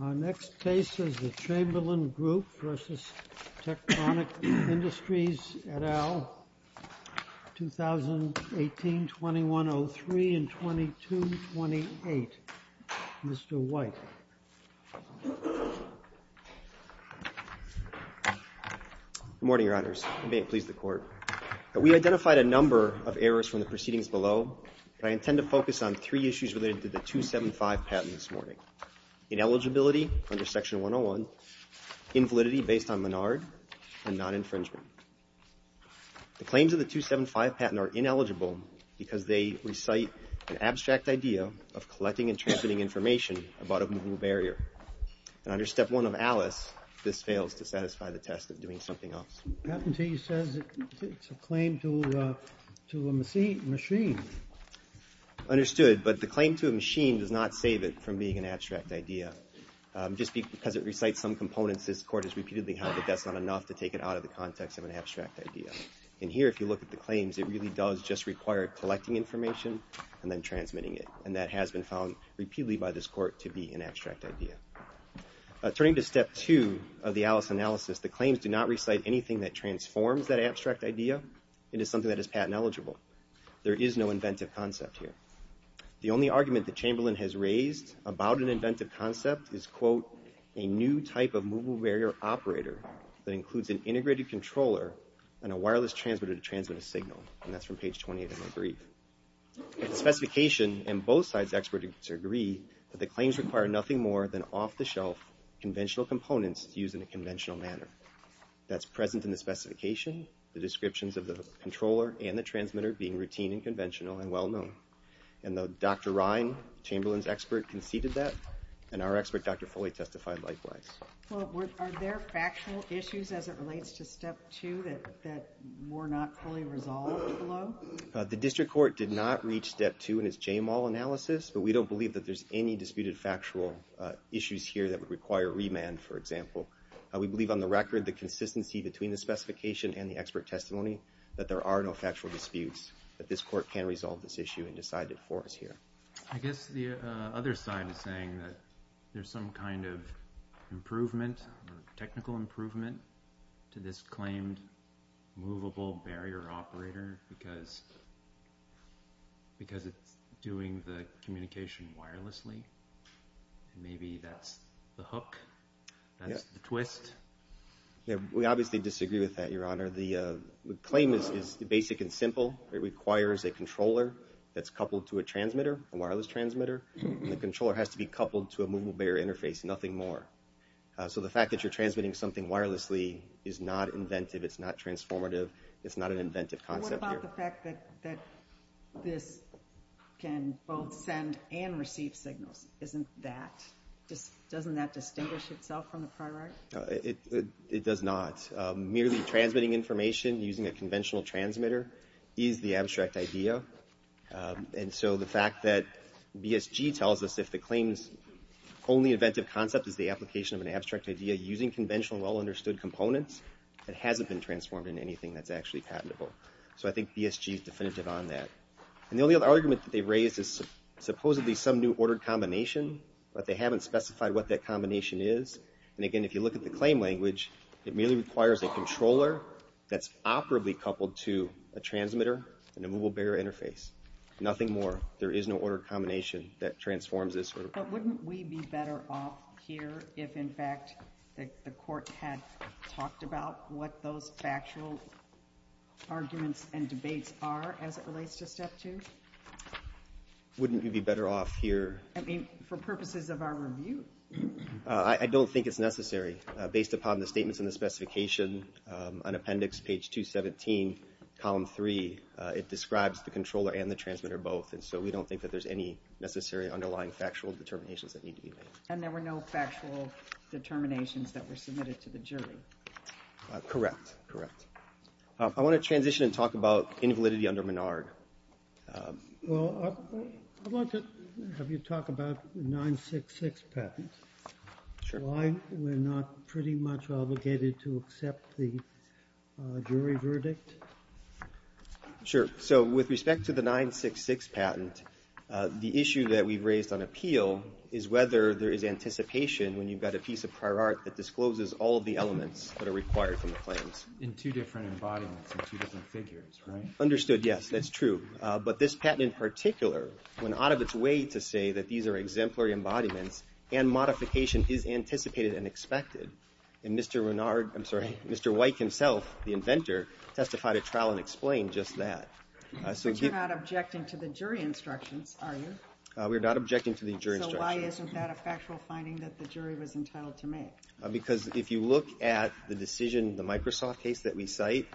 Our next case is the Chamberlain Group versus Tectonic Industries et al., 2018-21-03 and 22-28. Mr. White. Good morning, Your Honors, and may it please the Court. We identified a number of errors from the proceedings below, but I intend to focus on three issues related to the 275 patent this morning. Ineligibility under Section 101, invalidity based on Menard, and non-infringement. The claims of the 275 patent are ineligible because they recite an abstract idea of collecting and transmitting information about a movable barrier, and under Step 1 of ALICE, this fails to satisfy the test of doing something else. Patentee says it's a claim to a machine. Understood, but the claim to a machine does not save it from being an abstract idea. Just because it recites some components, this Court has repeatedly had that that's not enough to take it out of the context of an abstract idea. And here, if you look at the claims, it really does just require collecting information and then transmitting it, and that has been found repeatedly by this Court to be an abstract idea. Turning to Step 2 of the ALICE analysis, the claims do not recite anything that transforms that abstract idea into something that is patent eligible. There is no inventive concept here. The only argument that Chamberlain has raised about an inventive concept is, quote, a new type of movable barrier operator that includes an integrated controller and a wireless transmitter to transmit a signal, and that's from page 28 of my brief. The specification and both sides experts agree that the claims require nothing more than off-the-shelf conventional components used in a conventional manner. That's present in the specification, the descriptions of the controller and the transmitter being routine and conventional and well-known. And Dr. Ryan, Chamberlain's expert, conceded that, and our expert, Dr. Foley, testified likewise. Well, are there factual issues as it relates to Step 2 that were not fully resolved? The District Court did not reach Step 2 in its JMAL analysis, but we don't believe that there's any disputed factual issues here that would require remand, for example. We believe on the record the consistency between the specification and the expert testimony that there are no factual issues. So we're not going to resolve this issue and decide it for us here. I guess the other side is saying that there's some kind of improvement or technical improvement to this claimed movable barrier operator because it's doing the communication wirelessly. Maybe that's the hook, that's the twist. Yeah, we obviously disagree with that, Your Honor. The claim is basic and simple. It requires a controller that's coupled to a transmitter, a wireless transmitter, and the controller has to be coupled to a movable barrier interface, nothing more. So the fact that you're transmitting something wirelessly is not inventive, it's not transformative, it's not an inventive concept. What about the fact that this can both send and receive signals? Isn't that, just doesn't that distinguish itself from the prior art? It does not. Merely transmitting information using a conventional well-understood idea. And so the fact that BSG tells us if the claim's only inventive concept is the application of an abstract idea using conventional well-understood components, it hasn't been transformed into anything that's actually patentable. So I think BSG is definitive on that. And the only other argument that they raise is supposedly some new ordered combination, but they haven't specified what that combination is. And again, if you look at the claim language, it merely requires a controller that's operably coupled to a transmitter and a movable barrier interface, nothing more. There is no ordered combination that transforms this. But wouldn't we be better off here if in fact the court had talked about what those factual arguments and debates are as it relates to step two? Wouldn't you be better off here? I mean, for purposes of our review. I don't think it's in the specification on appendix page 217, column three. It describes the controller and the transmitter both. And so we don't think that there's any necessary underlying factual determinations that need to be made. And there were no factual determinations that were submitted to the jury? Correct, correct. I want to transition and talk about invalidity under Menard. Well, I want to have you talk about 966 patents. Sure. Why we're not pretty much obligated to accept the jury verdict? Sure. So with respect to the 966 patent, the issue that we've raised on appeal is whether there is anticipation when you've got a piece of prior art that discloses all of the elements that are required from the claims. In two different embodiments, in two different figures, right? Understood, yes. That's true. But this patent in particular, when out of its way to say that these are exemplary embodiments and modification is unexpected. And Mr. Menard, I'm sorry, Mr. Weick himself, the inventor, testified at trial and explained just that. But you're not objecting to the jury instructions, are you? We're not objecting to the jury instructions. So why isn't that a factual finding that the jury was entitled to make? Because if you look at the decision, the Microsoft case that we cite,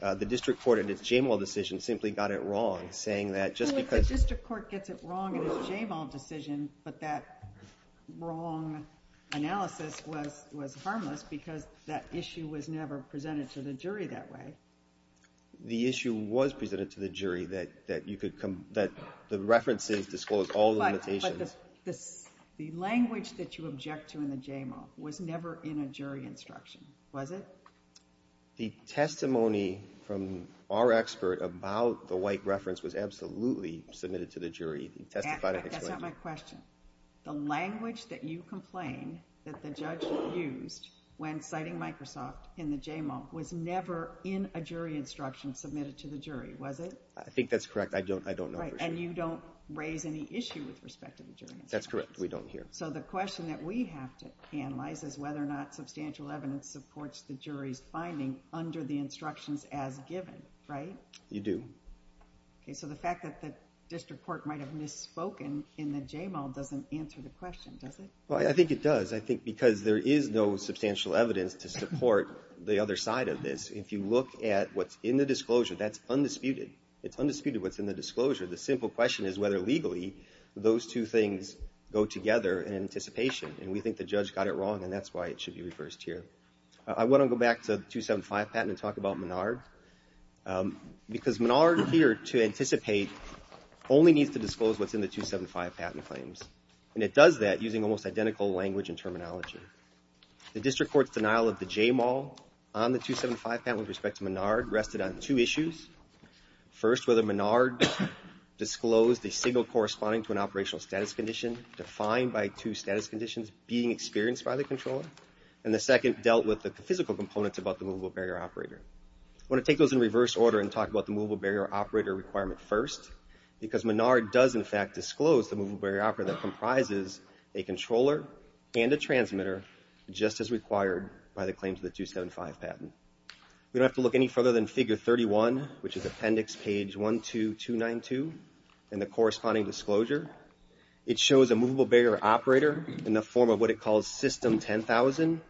the district court in its Jamal decision simply got it wrong, saying that just because... Well, the district court gets it wrong in its Jamal decision, but that wrong analysis was harmless because that issue was never presented to the jury that way. The issue was presented to the jury that you could come, that the references disclose all the limitations. But the language that you object to in the Jamal was never in a jury instruction, was it? The testimony from our expert about the Weick reference was absolutely submitted to the jury. But that's not my question. The language that you complain that the judge used when citing Microsoft in the Jamal was never in a jury instruction submitted to the jury, was it? I think that's correct. I don't know for sure. And you don't raise any issue with respect to the jury instructions? That's correct. We don't hear. So the question that we have to analyze is whether or not substantial evidence supports the jury's finding under the instructions as given, right? You do. Okay, so the fact that the district court might have misspoken in the Jamal doesn't answer the question, does it? Well, I think it does. I think because there is no substantial evidence to support the other side of this. If you look at what's in the disclosure, that's undisputed. It's undisputed what's in the disclosure. The simple question is whether legally those two things go together in anticipation. And we think the judge got it wrong, and that's why it should be here to anticipate only needs to disclose what's in the 275 patent claims. And it does that using almost identical language and terminology. The district court's denial of the Jamal on the 275 patent with respect to Menard rested on two issues. First, whether Menard disclosed the signal corresponding to an operational status condition defined by two status conditions being experienced by the controller. And the second dealt with the physical components about the movable barrier operator. I want to take those in reverse order and talk about the movable barrier operator requirement first, because Menard does in fact disclose the movable barrier operator that comprises a controller and a transmitter, just as required by the claims of the 275 patent. We don't have to look any further than figure 31, which is appendix page 12292, and the corresponding disclosure. It shows a movable barrier operator in the form of what it calls system 10,000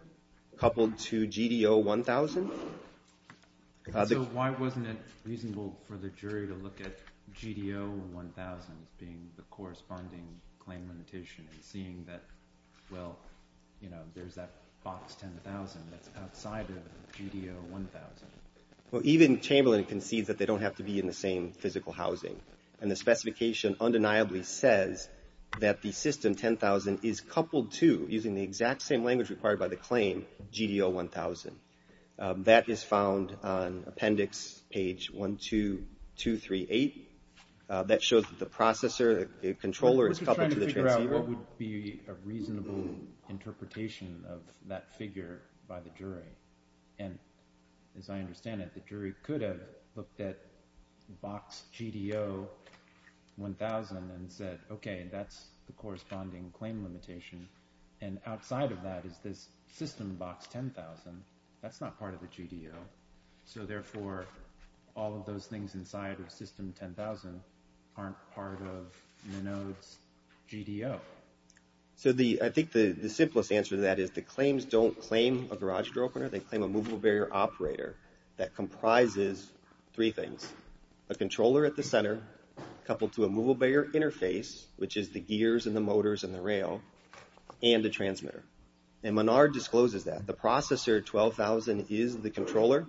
coupled to GDO 1,000. So why wasn't it reasonable for the jury to look at GDO 1,000 as being the corresponding claim limitation and seeing that, well, you know, there's that box 10,000 that's outside of GDO 1,000? Well, even Chamberlain concedes that they don't have to be in the same physical housing. And the specification undeniably says that the system 10,000 is coupled to, using the exact same language required by the claim, GDO 1,000. That is found on appendix page 12238. That shows that the processor, the controller is coupled to the transceiver. What would be a reasonable interpretation of that figure by the jury? And as I understand it, the jury could have looked at box GDO 1,000 and said, okay, that's the corresponding claim limitation. And outside of that is this system box 10,000. That's not part of the GDO. So therefore, all of those things inside of system 10,000 aren't part of Minode's GDO. So I think the simplest answer to that is the claims don't claim a garage door opener. They claim a movable barrier operator that comprises three things. A controller at the center coupled to a movable barrier interface, which is the gears and the motors and the rail, and a transmitter. And Menard discloses that. The processor 12,000 is the controller.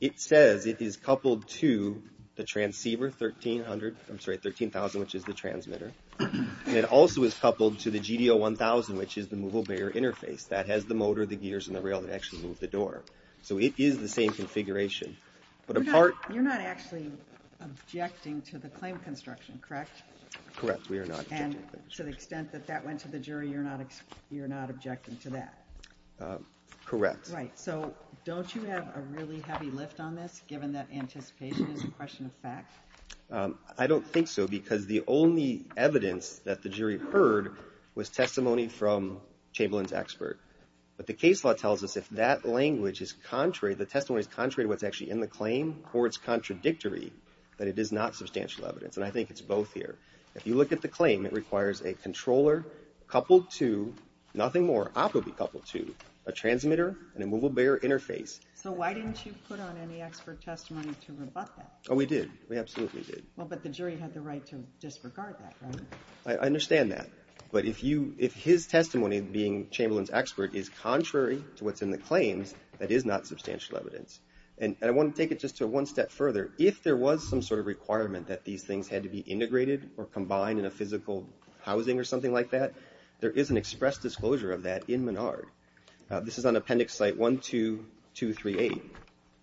It says it is coupled to the transceiver 1300, I'm sorry, 13,000, which is the transmitter. It also is coupled to the GDO 1,000, which is the movable barrier interface that has the motor, the gears, and the rail that actually move the door. So it is the same configuration. But apart- You're not actually objecting to the claim construction, correct? Correct. We are not. And to the extent that that went to the jury, you're not objecting to that? Correct. Right. So don't you have a really heavy lift on this, given that anticipation is a question of fact? I don't think so, because the only evidence that the jury heard was testimony from Chamberlain's expert. But the case law tells us if that language is contrary, the testimony is contrary to what's in the claim or it's contradictory, that it is not substantial evidence. And I think it's both here. If you look at the claim, it requires a controller coupled to, nothing more, optically coupled to, a transmitter and a movable barrier interface. So why didn't you put on any expert testimony to rebut that? Oh, we did. We absolutely did. Well, but the jury had the right to disregard that, right? I understand that. But if his testimony, being Chamberlain's expert, is contrary to what's in the claims, that is not substantial evidence. And I want to take it just to one step further. If there was some sort of requirement that these things had to be integrated or combined in a physical housing or something like that, there is an express disclosure of that in Menard. This is on Appendix Site 12238.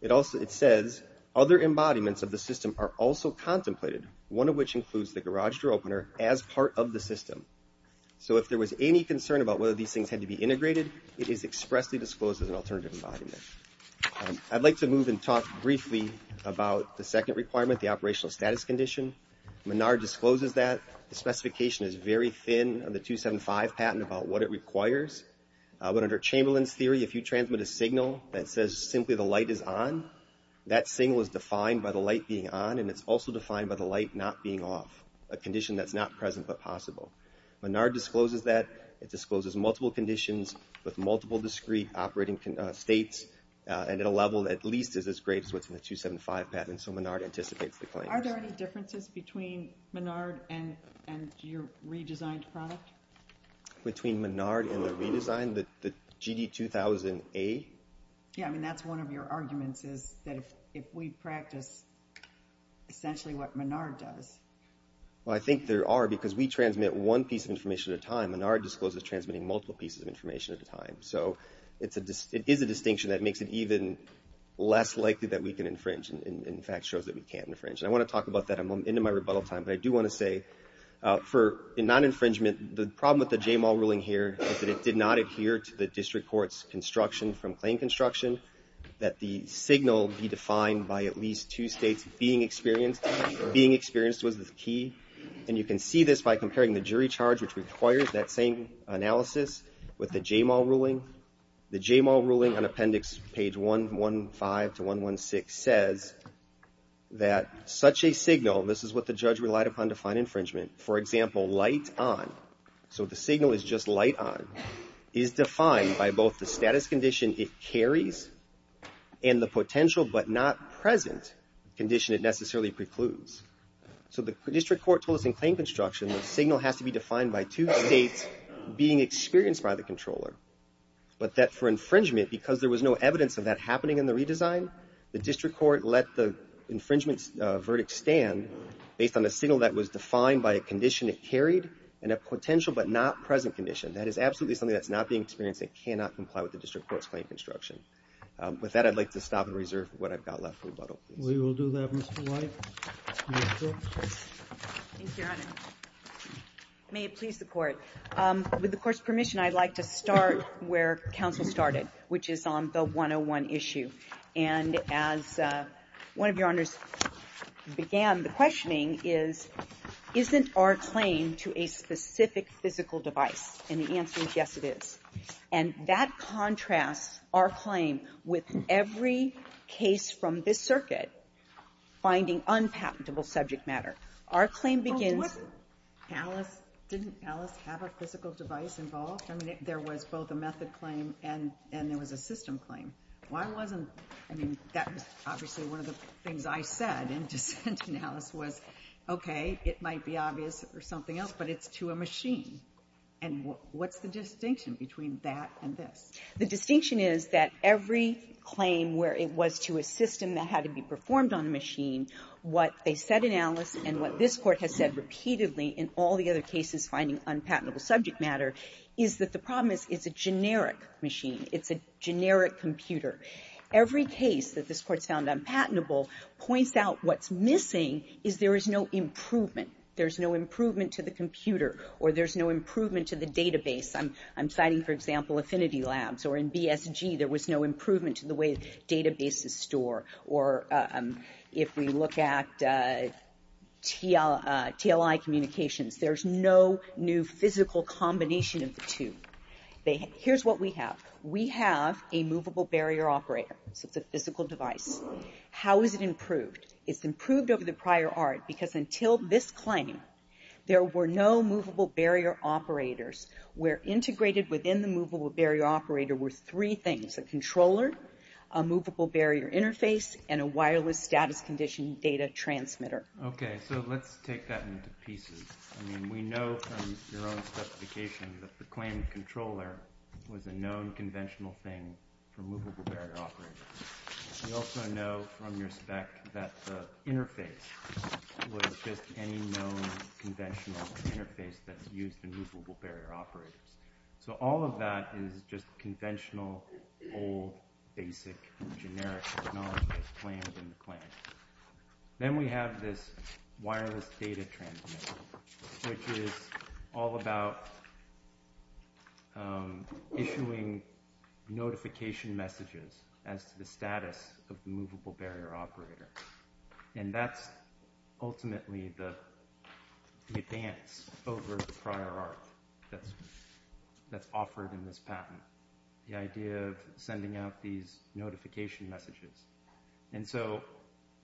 It says, other embodiments of the system are also contemplated, one of which includes the garage door opener, as part of the system. So if there was any concern about whether these things had to be integrated, it is expressly disclosed as an alternative embodiment. I'd like to move and talk briefly about the second requirement, the operational status condition. Menard discloses that. The specification is very thin on the 275 patent about what it requires. But under Chamberlain's theory, if you transmit a signal that says simply the light is on, that signal is defined by the light being on, and it's also defined by the light not being off, a condition that's not present but possible. Menard discloses that. It discloses multiple conditions with multiple discrete operating states, and at a level that at least is as great as what's in the 275 patent. So Menard anticipates the claims. Are there any differences between Menard and your redesigned product? Between Menard and the redesigned, the GD2000A? Yeah, I mean, that's one of your arguments, is that if we practice essentially what Menard does. Well, I think there are, because we transmit one piece of information at a time. And Menard discloses transmitting multiple pieces of information at a time. So it is a distinction that makes it even less likely that we can infringe, and in fact shows that we can infringe. And I want to talk about that in my rebuttal time. But I do want to say, for non-infringement, the problem with the J-Mall ruling here is that it did not adhere to the district court's construction from claim construction, that the signal be defined by at least two states being experienced. Being experienced was the key. And you can see this by comparing the jury charge, which requires that same analysis, with the J-Mall ruling. The J-Mall ruling on appendix page 115 to 116 says that such a signal, this is what the judge relied upon to find infringement, for example, light on, so the signal is just light on, is defined by both the status condition it carries and the potential but not present condition it necessarily precludes. So the district court told us in claim construction, the signal has to be defined by two states being experienced by the controller. But that for infringement, because there was no evidence of that happening in the redesign, the district court let the infringement verdict stand based on a signal that was defined by a condition it carried and a potential but not present condition. That is absolutely something that's not being experienced and cannot comply with the district court's claim construction. With that, I'd like to stop and reserve what I've got left for rebuttal. We will do that, Mr. White. Thank you, Your Honor. May it please the Court. With the Court's permission, I'd like to start where counsel started, which is on the 101 issue. And as one of Your Honors began, the questioning is, isn't our claim to a specific physical device? And the answer is, yes, it is. And that contrasts our claim with every case from this circuit finding unpatentable subject matter. Our claim begins — Oh, didn't Alice have a physical device involved? I mean, there was both a method claim and there was a system claim. Why wasn't — I mean, that was obviously one of the things I said in dissenting Alice was, okay, it might be obvious or something else, but it's to a machine. And what's the distinction between that and this? The distinction is that every claim where it was to a system that had to be performed on a machine, what they said in Alice and what this Court has said repeatedly in all the other cases finding unpatentable subject matter is that the problem is it's a generic machine. It's a generic computer. Every case that this Court's found unpatentable points out what's missing is there is no improvement. There's no improvement to the computer or there's no improvement to the database. I'm citing, for example, Affinity Labs. Or in BSG, there was no improvement to the way databases store. Or if we look at TLI communications, there's no new physical combination of the two. Here's what we have. We have a movable barrier operator. So it's a physical device. How is it improved? It's improved over the prior art because until this claim, there were no movable barrier operators where integrated within the movable barrier operator were three things, a controller, a movable barrier interface, and a wireless status condition data transmitter. Okay. So let's take that into pieces. I mean, we know from your own specification that the claimed controller was a known conventional thing for movable barrier operators. We also know from your spec that the interface was just any known conventional interface that's used in movable barrier operators. So all of that is just conventional, old, basic, generic technology that's claimed in the claim. Then we have this wireless data transmitter, which is all about issuing notification messages as to the status of the movable barrier operator. And that's ultimately the advance over the prior art that's offered in this patent. The idea of sending out these notification messages. And so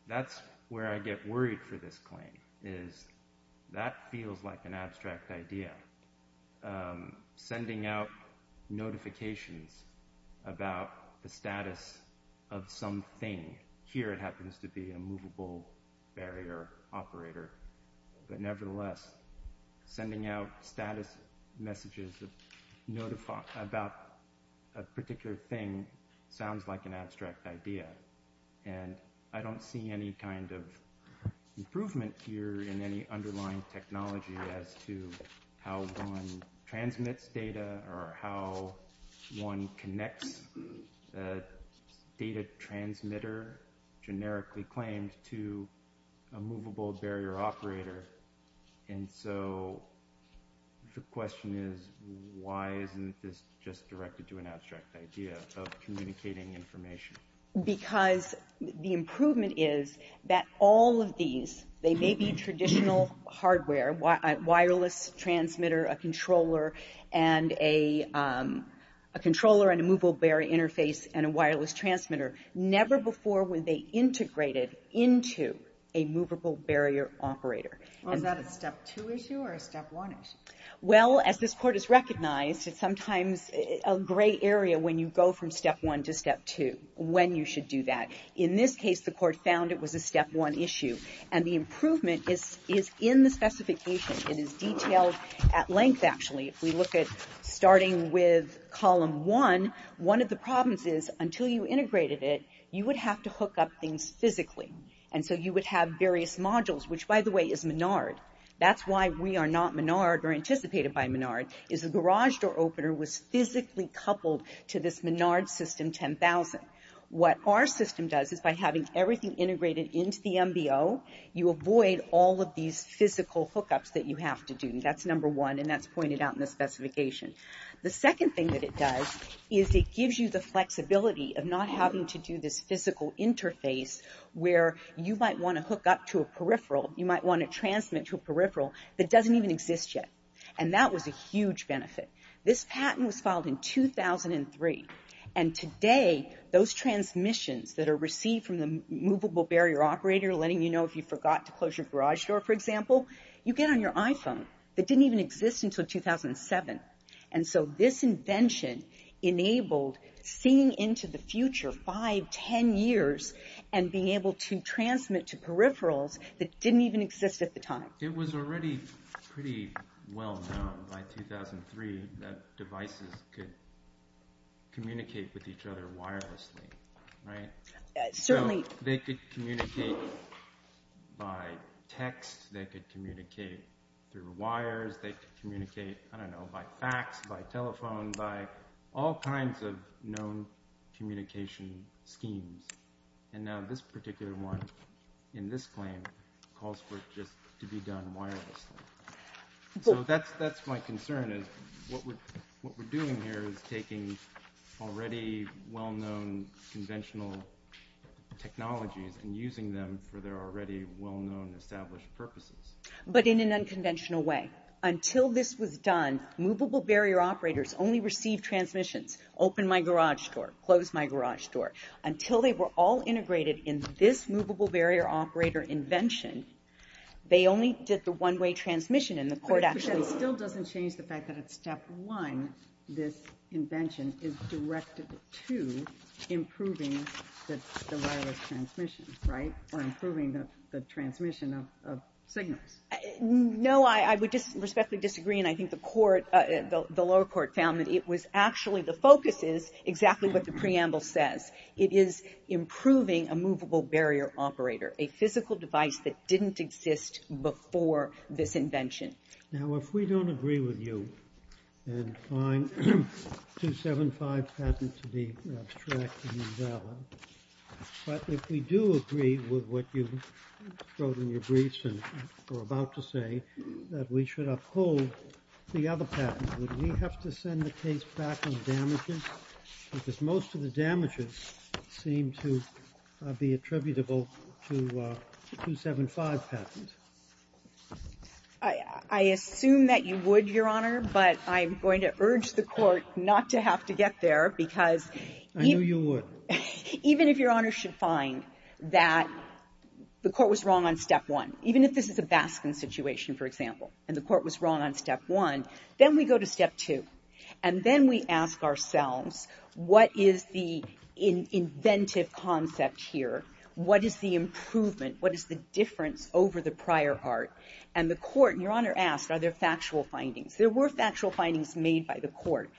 that's where I get worried for this claim is that feels like an abstract idea. I'm sending out notifications about the status of something. Here, it happens to be a movable barrier operator. But nevertheless, sending out status messages about a particular thing sounds like an abstract idea. And I don't see any kind of improvement here in any underlying technology as to how one transmits data or how one connects the data transmitter generically claimed to a movable barrier operator. And so the question is, why isn't this just directed to an abstract idea of communicating information? Because the improvement is that all of these, they may be traditional hardware, a wireless transmitter, a controller, and a movable barrier interface, and a wireless transmitter. Never before were they integrated into a movable barrier operator. Well, is that a step two issue or a step one issue? Well, as this court has recognized, it's sometimes a gray area when you go from step one to step two, when you should do that. In this case, the court found it was a step one issue. And the improvement is in the specification. It is detailed at length, actually. If we look at starting with column one, one of the problems is, until you integrated it, you would have to hook up things physically. And so you would have various modules, which, by the way, is Menard. That's why we are not Menard or anticipated by Menard, is the garage door opener was physically coupled to this Menard system 10,000. What our system does is by having everything integrated into the MBO, you avoid all of these physical hookups that you have to do. That's number one, and that's pointed out in the specification. The second thing that it does is it gives you the flexibility of not having to do this physical interface where you might want to hook up to a peripheral. You might want to transmit to a peripheral that doesn't even exist yet. And that was a huge benefit. This patent was filed in 2003. And today, those transmissions that are received from the movable barrier operator, letting you know if you forgot to close your garage door, for example, you get on your iPhone that didn't even exist until 2007. And so this invention enabled seeing into the future 5, 10 years and being able to transmit to peripherals that didn't even exist at the time. It was already pretty well known by 2003 that devices could communicate with each other wirelessly, right? Certainly. They could communicate by text. They could communicate through wires. They could communicate, I don't know, by fax, by telephone, by all kinds of known communication schemes. And now this particular one in this claim calls for it just to be done wirelessly. So that's my concern is what we're doing here is taking already well-known conventional technologies and using them for their already well-known established purposes. But in an unconventional way. Until this was done, movable barrier operators only received transmissions, open my garage door, close my garage door. Until they were all integrated in this movable barrier operator invention, they only did the one-way transmission. And the court actually... But that still doesn't change the fact that at step one, this invention is directed to improving the wireless transmission, right? Or improving the transmission of signals. No, I would respectfully disagree. And I think the court, the lower court found that it was actually the focus is exactly what the preamble says. It is improving a movable barrier operator. A physical device that didn't exist before this invention. Now, if we don't agree with you and find 275 patent to be abstract and invalid. But if we do agree with what you wrote in your briefs and are about to say, that we should uphold the other patent. Would we have to send the case back on damages? Because most of the damages seem to be attributable to 275 patent. I assume that you would, Your Honor. But I'm going to urge the court not to have to get there because... I knew you would. Even if Your Honor should find that the court was wrong on step one. Even if this is a Baskin situation, for example, and the court was wrong on step one. Then we go to step two. And then we ask ourselves, what is the inventive concept here? What is the improvement? What is the difference over the prior part? And the court, and Your Honor asked, are there factual findings? There were factual findings made by the court.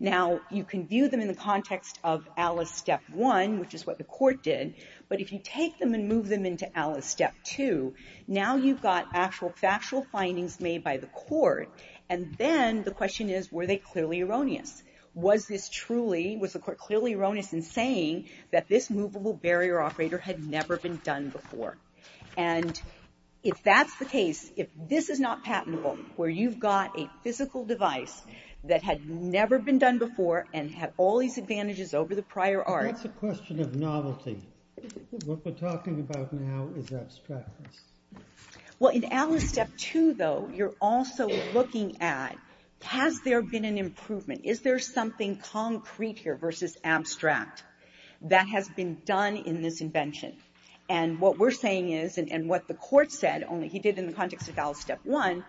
Now, you can view them in the context of Alice step one, which is what the court did. But if you take them and move them into Alice step two, now you've got actual factual findings made by the court. And then the question is, were they clearly erroneous? Was this truly, was the court clearly erroneous in saying that this movable barrier operator had never been done before? And if that's the case, if this is not patentable, where you've got a physical device that had never been done before and had all these advantages over the prior art... It's a question of novelty. What we're talking about now is abstractness. Well, in Alice step two, though, you're also looking at, has there been an improvement? Is there something concrete here versus abstract that has been done in this invention? And what we're saying is, and what the court said, only he did it in the context of Alice step one,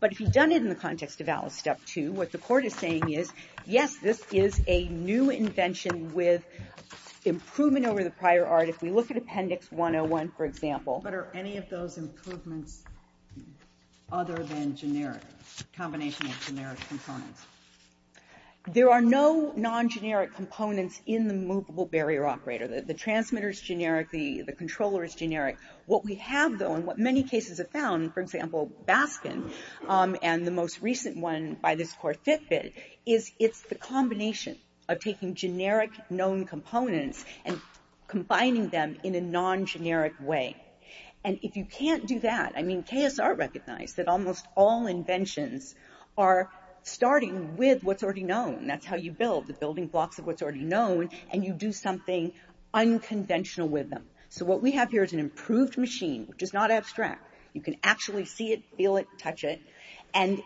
but if he'd done it in the context of Alice step two, what the court is saying is, yes, this is a new invention with improvement over the prior art. If we look at Appendix 101, for example... Other than generic, combination of generic components. There are no non-generic components in the movable barrier operator. The transmitter is generic, the controller is generic. What we have, though, and what many cases have found, for example, Baskin and the most recent one by this court, Fitbit, is it's the combination of taking generic known components and combining them in a non-generic way. And if you can't do that, I mean, KSR recognized that almost all inventions are starting with what's already known. That's how you build, the building blocks of what's already known, and you do something unconventional with them. So what we have here is an improved machine, which is not abstract. You can actually see it, feel it, touch it, and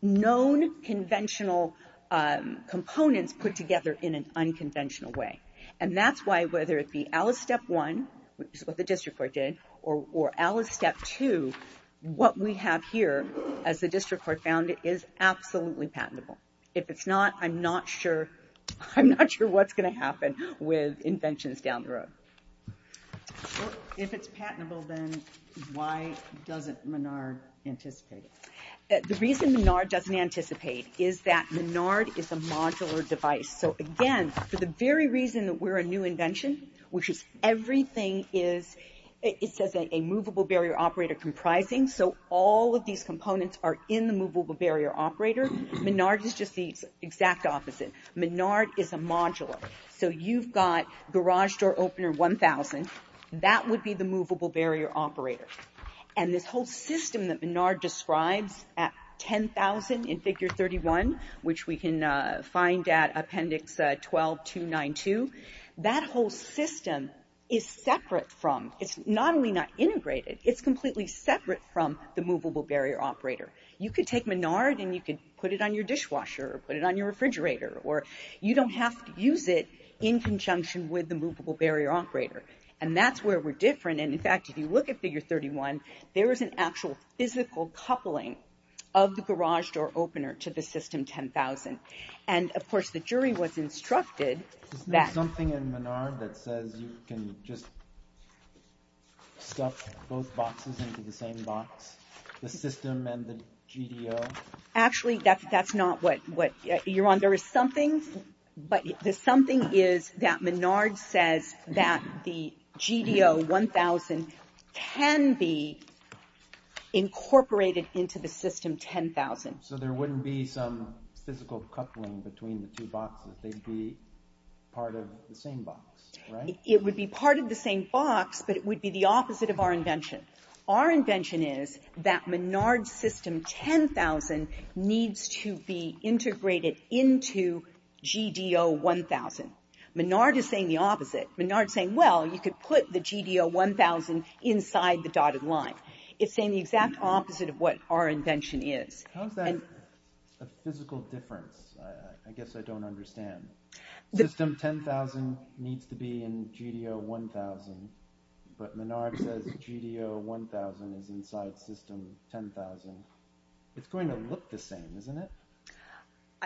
known conventional components put together in an unconventional way. And that's why, whether it be Alice Step 1, which is what the district court did, or Alice Step 2, what we have here, as the district court found it, is absolutely patentable. If it's not, I'm not sure what's going to happen with inventions down the road. Well, if it's patentable, then why doesn't Menard anticipate it? The reason Menard doesn't anticipate is that Menard is a modular device. So again, for the very reason that we're a new invention, which is everything is, it says a movable barrier operator comprising. So all of these components are in the movable barrier operator. Menard is just the exact opposite. Menard is a modular. So you've got garage door opener 1,000, that would be the movable barrier operator. And this whole system that Menard describes at 10,000 in figure 31, which we can find at appendix 12-292, that whole system is separate from, it's not only not integrated, it's completely separate from the movable barrier operator. You could take Menard and you could put it on your dishwasher or put it on your refrigerator, or you don't have to use it in conjunction with the movable barrier operator. And that's where we're different. And in fact, if you look at figure 31, there is an actual physical coupling of the garage door opener to the system 10,000. And of course, the jury was instructed that- Is there something in Menard that says you can just stuff both boxes into the same box, the system and the GDO? Actually, that's not what you're on. There is something, but the something is that Menard says that the GDO 1,000 can be incorporated into the system 10,000. So there wouldn't be some physical coupling between the two boxes. They'd be part of the same box, right? It would be part of the same box, but it would be the opposite of our invention. Our invention is that Menard's system 10,000 needs to be integrated into GDO 1,000. Menard is saying the opposite. Menard's saying, well, you could put the GDO 1,000 inside the dotted line. It's saying the exact opposite of what our invention is. How is that a physical difference? I guess I don't understand. System 10,000 needs to be in GDO 1,000, but Menard says GDO 1,000 is inside system 10,000. It's going to look the same, isn't it?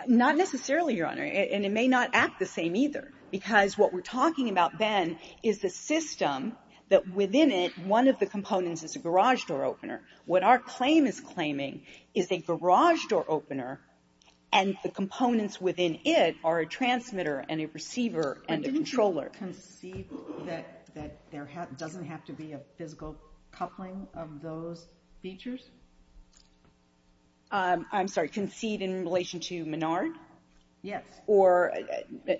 Not necessarily, Your Honor. And it may not act the same either, because what we're talking about, Ben, is the system that within it, one of the components is a garage door opener. What our claim is claiming is a garage door opener, and the components within it are a transmitter and a receiver and a controller. Didn't you concede that there doesn't have to be a physical coupling of those features? I'm sorry, concede in relation to Menard? Yes. Or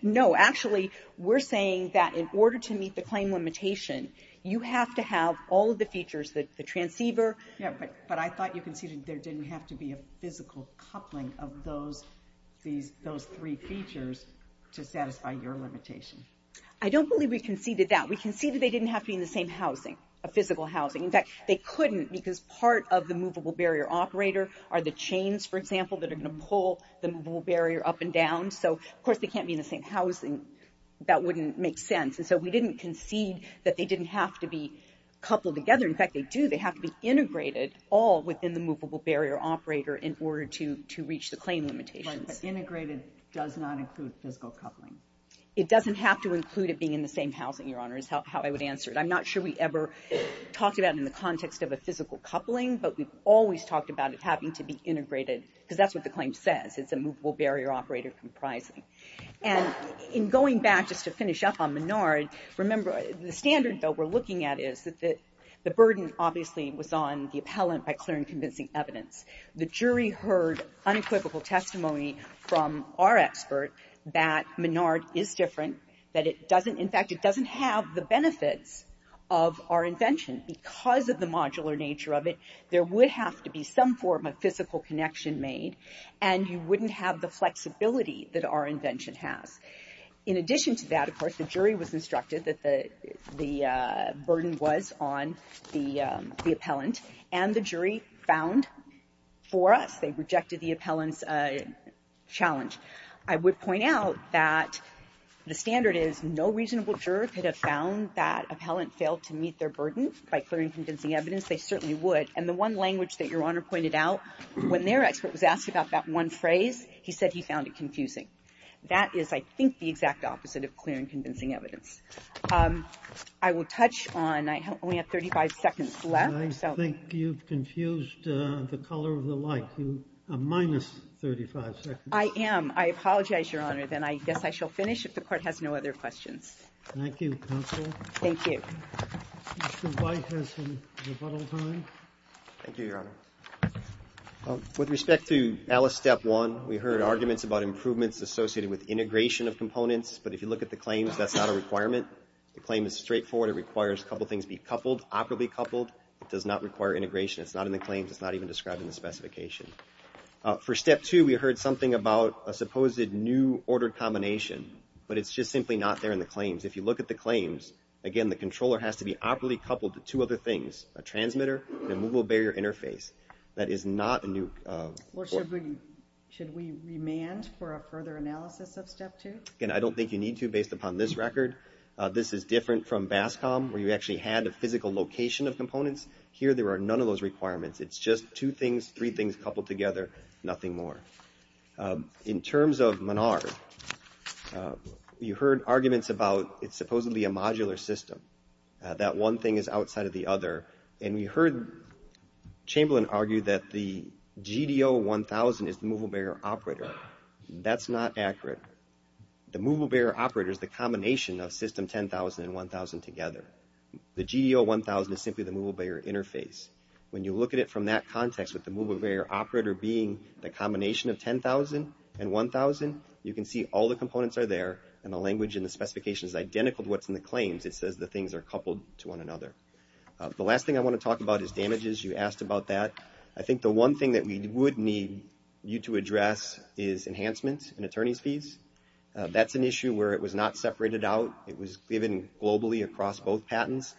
no, actually, we're saying that in order to meet the claim limitation, you have to all of the features, the transceiver. Yeah, but I thought you conceded there didn't have to be a physical coupling of those three features to satisfy your limitation. I don't believe we conceded that. We conceded they didn't have to be in the same housing, a physical housing. In fact, they couldn't because part of the movable barrier operator are the chains, for example, that are going to pull the movable barrier up and down. So, of course, they can't be in the same housing. That wouldn't make sense. So, we didn't concede that they didn't have to be coupled together. In fact, they do. They have to be integrated all within the movable barrier operator in order to reach the claim limitations. Integrated does not include physical coupling. It doesn't have to include it being in the same housing, Your Honor, is how I would answer it. I'm not sure we ever talked about it in the context of a physical coupling, but we've always talked about it having to be integrated because that's what the claim says. It's a movable barrier operator comprising. And in going back just to finish up on Menard, remember, the standard that we're looking at is that the burden obviously was on the appellant by clearing convincing evidence. The jury heard unequivocal testimony from our expert that Menard is different, that it doesn't, in fact, it doesn't have the benefits of our invention because of the modular nature of it. There would have to be some form of physical connection made, and you wouldn't have the In addition to that, of course, the jury was instructed that the burden was on the appellant, and the jury found for us, they rejected the appellant's challenge. I would point out that the standard is no reasonable juror could have found that appellant failed to meet their burden by clearing convincing evidence. They certainly would. And the one language that Your Honor pointed out when their expert was asked about that one phrase, he said he found it confusing. That is, I think, the exact opposite of clearing convincing evidence. I will touch on, I only have 35 seconds left. And I think you've confused the color of the light. You have minus 35 seconds. I am. I apologize, Your Honor. Then I guess I shall finish if the Court has no other questions. Thank you, counsel. Thank you. Mr. White has some rebuttal time. Thank you, Your Honor. With respect to Alice, step one, we heard arguments about improvements associated with integration of components. But if you look at the claims, that's not a requirement. The claim is straightforward. It requires a couple things be coupled, operably coupled. It does not require integration. It's not in the claims. It's not even described in the specification. For step two, we heard something about a supposed new ordered combination. But it's just simply not there in the claims. If you look at the claims, again, the controller has to be operably coupled to two other things, a transmitter and a movable barrier interface. That is not a new... Should we remand for a further analysis of step two? Again, I don't think you need to, based upon this record. This is different from BASCOM, where you actually had a physical location of components. Here, there are none of those requirements. It's just two things, three things coupled together, nothing more. In terms of MNAR, you heard arguments about it's supposedly a modular system, that one thing is outside of the other. And we heard Chamberlain argue that the GDO-1000 is the movable barrier operator. That's not accurate. The movable barrier operator is the combination of system 10,000 and 1,000 together. The GDO-1000 is simply the movable barrier interface. When you look at it from that context, with the movable barrier operator being the combination of 10,000 and 1,000, you can see all the components are there. And the language in the specification is identical to what's in the claims. It says the things are coupled to one another. The last thing I want to talk about is damages. You asked about that. I think the one thing that we would need you to address is enhancements in attorney's fees. That's an issue where it was not separated out. It was given globally across both patents.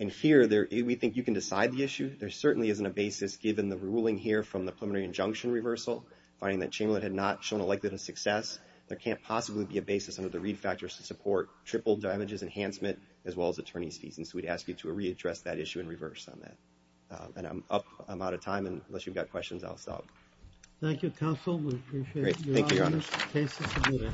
And here, we think you can decide the issue. There certainly isn't a basis, given the ruling here from the preliminary injunction reversal, finding that Chamberlain had not shown a likelihood of success. There can't possibly be a basis under the read factors to support triple damages enhancement, as well as attorney's fees. And so we'd ask you to readdress that issue in reverse on that. And I'm up. I'm out of time. And unless you've got questions, I'll stop. Thank you, counsel. Great. Thank you, Your Honor.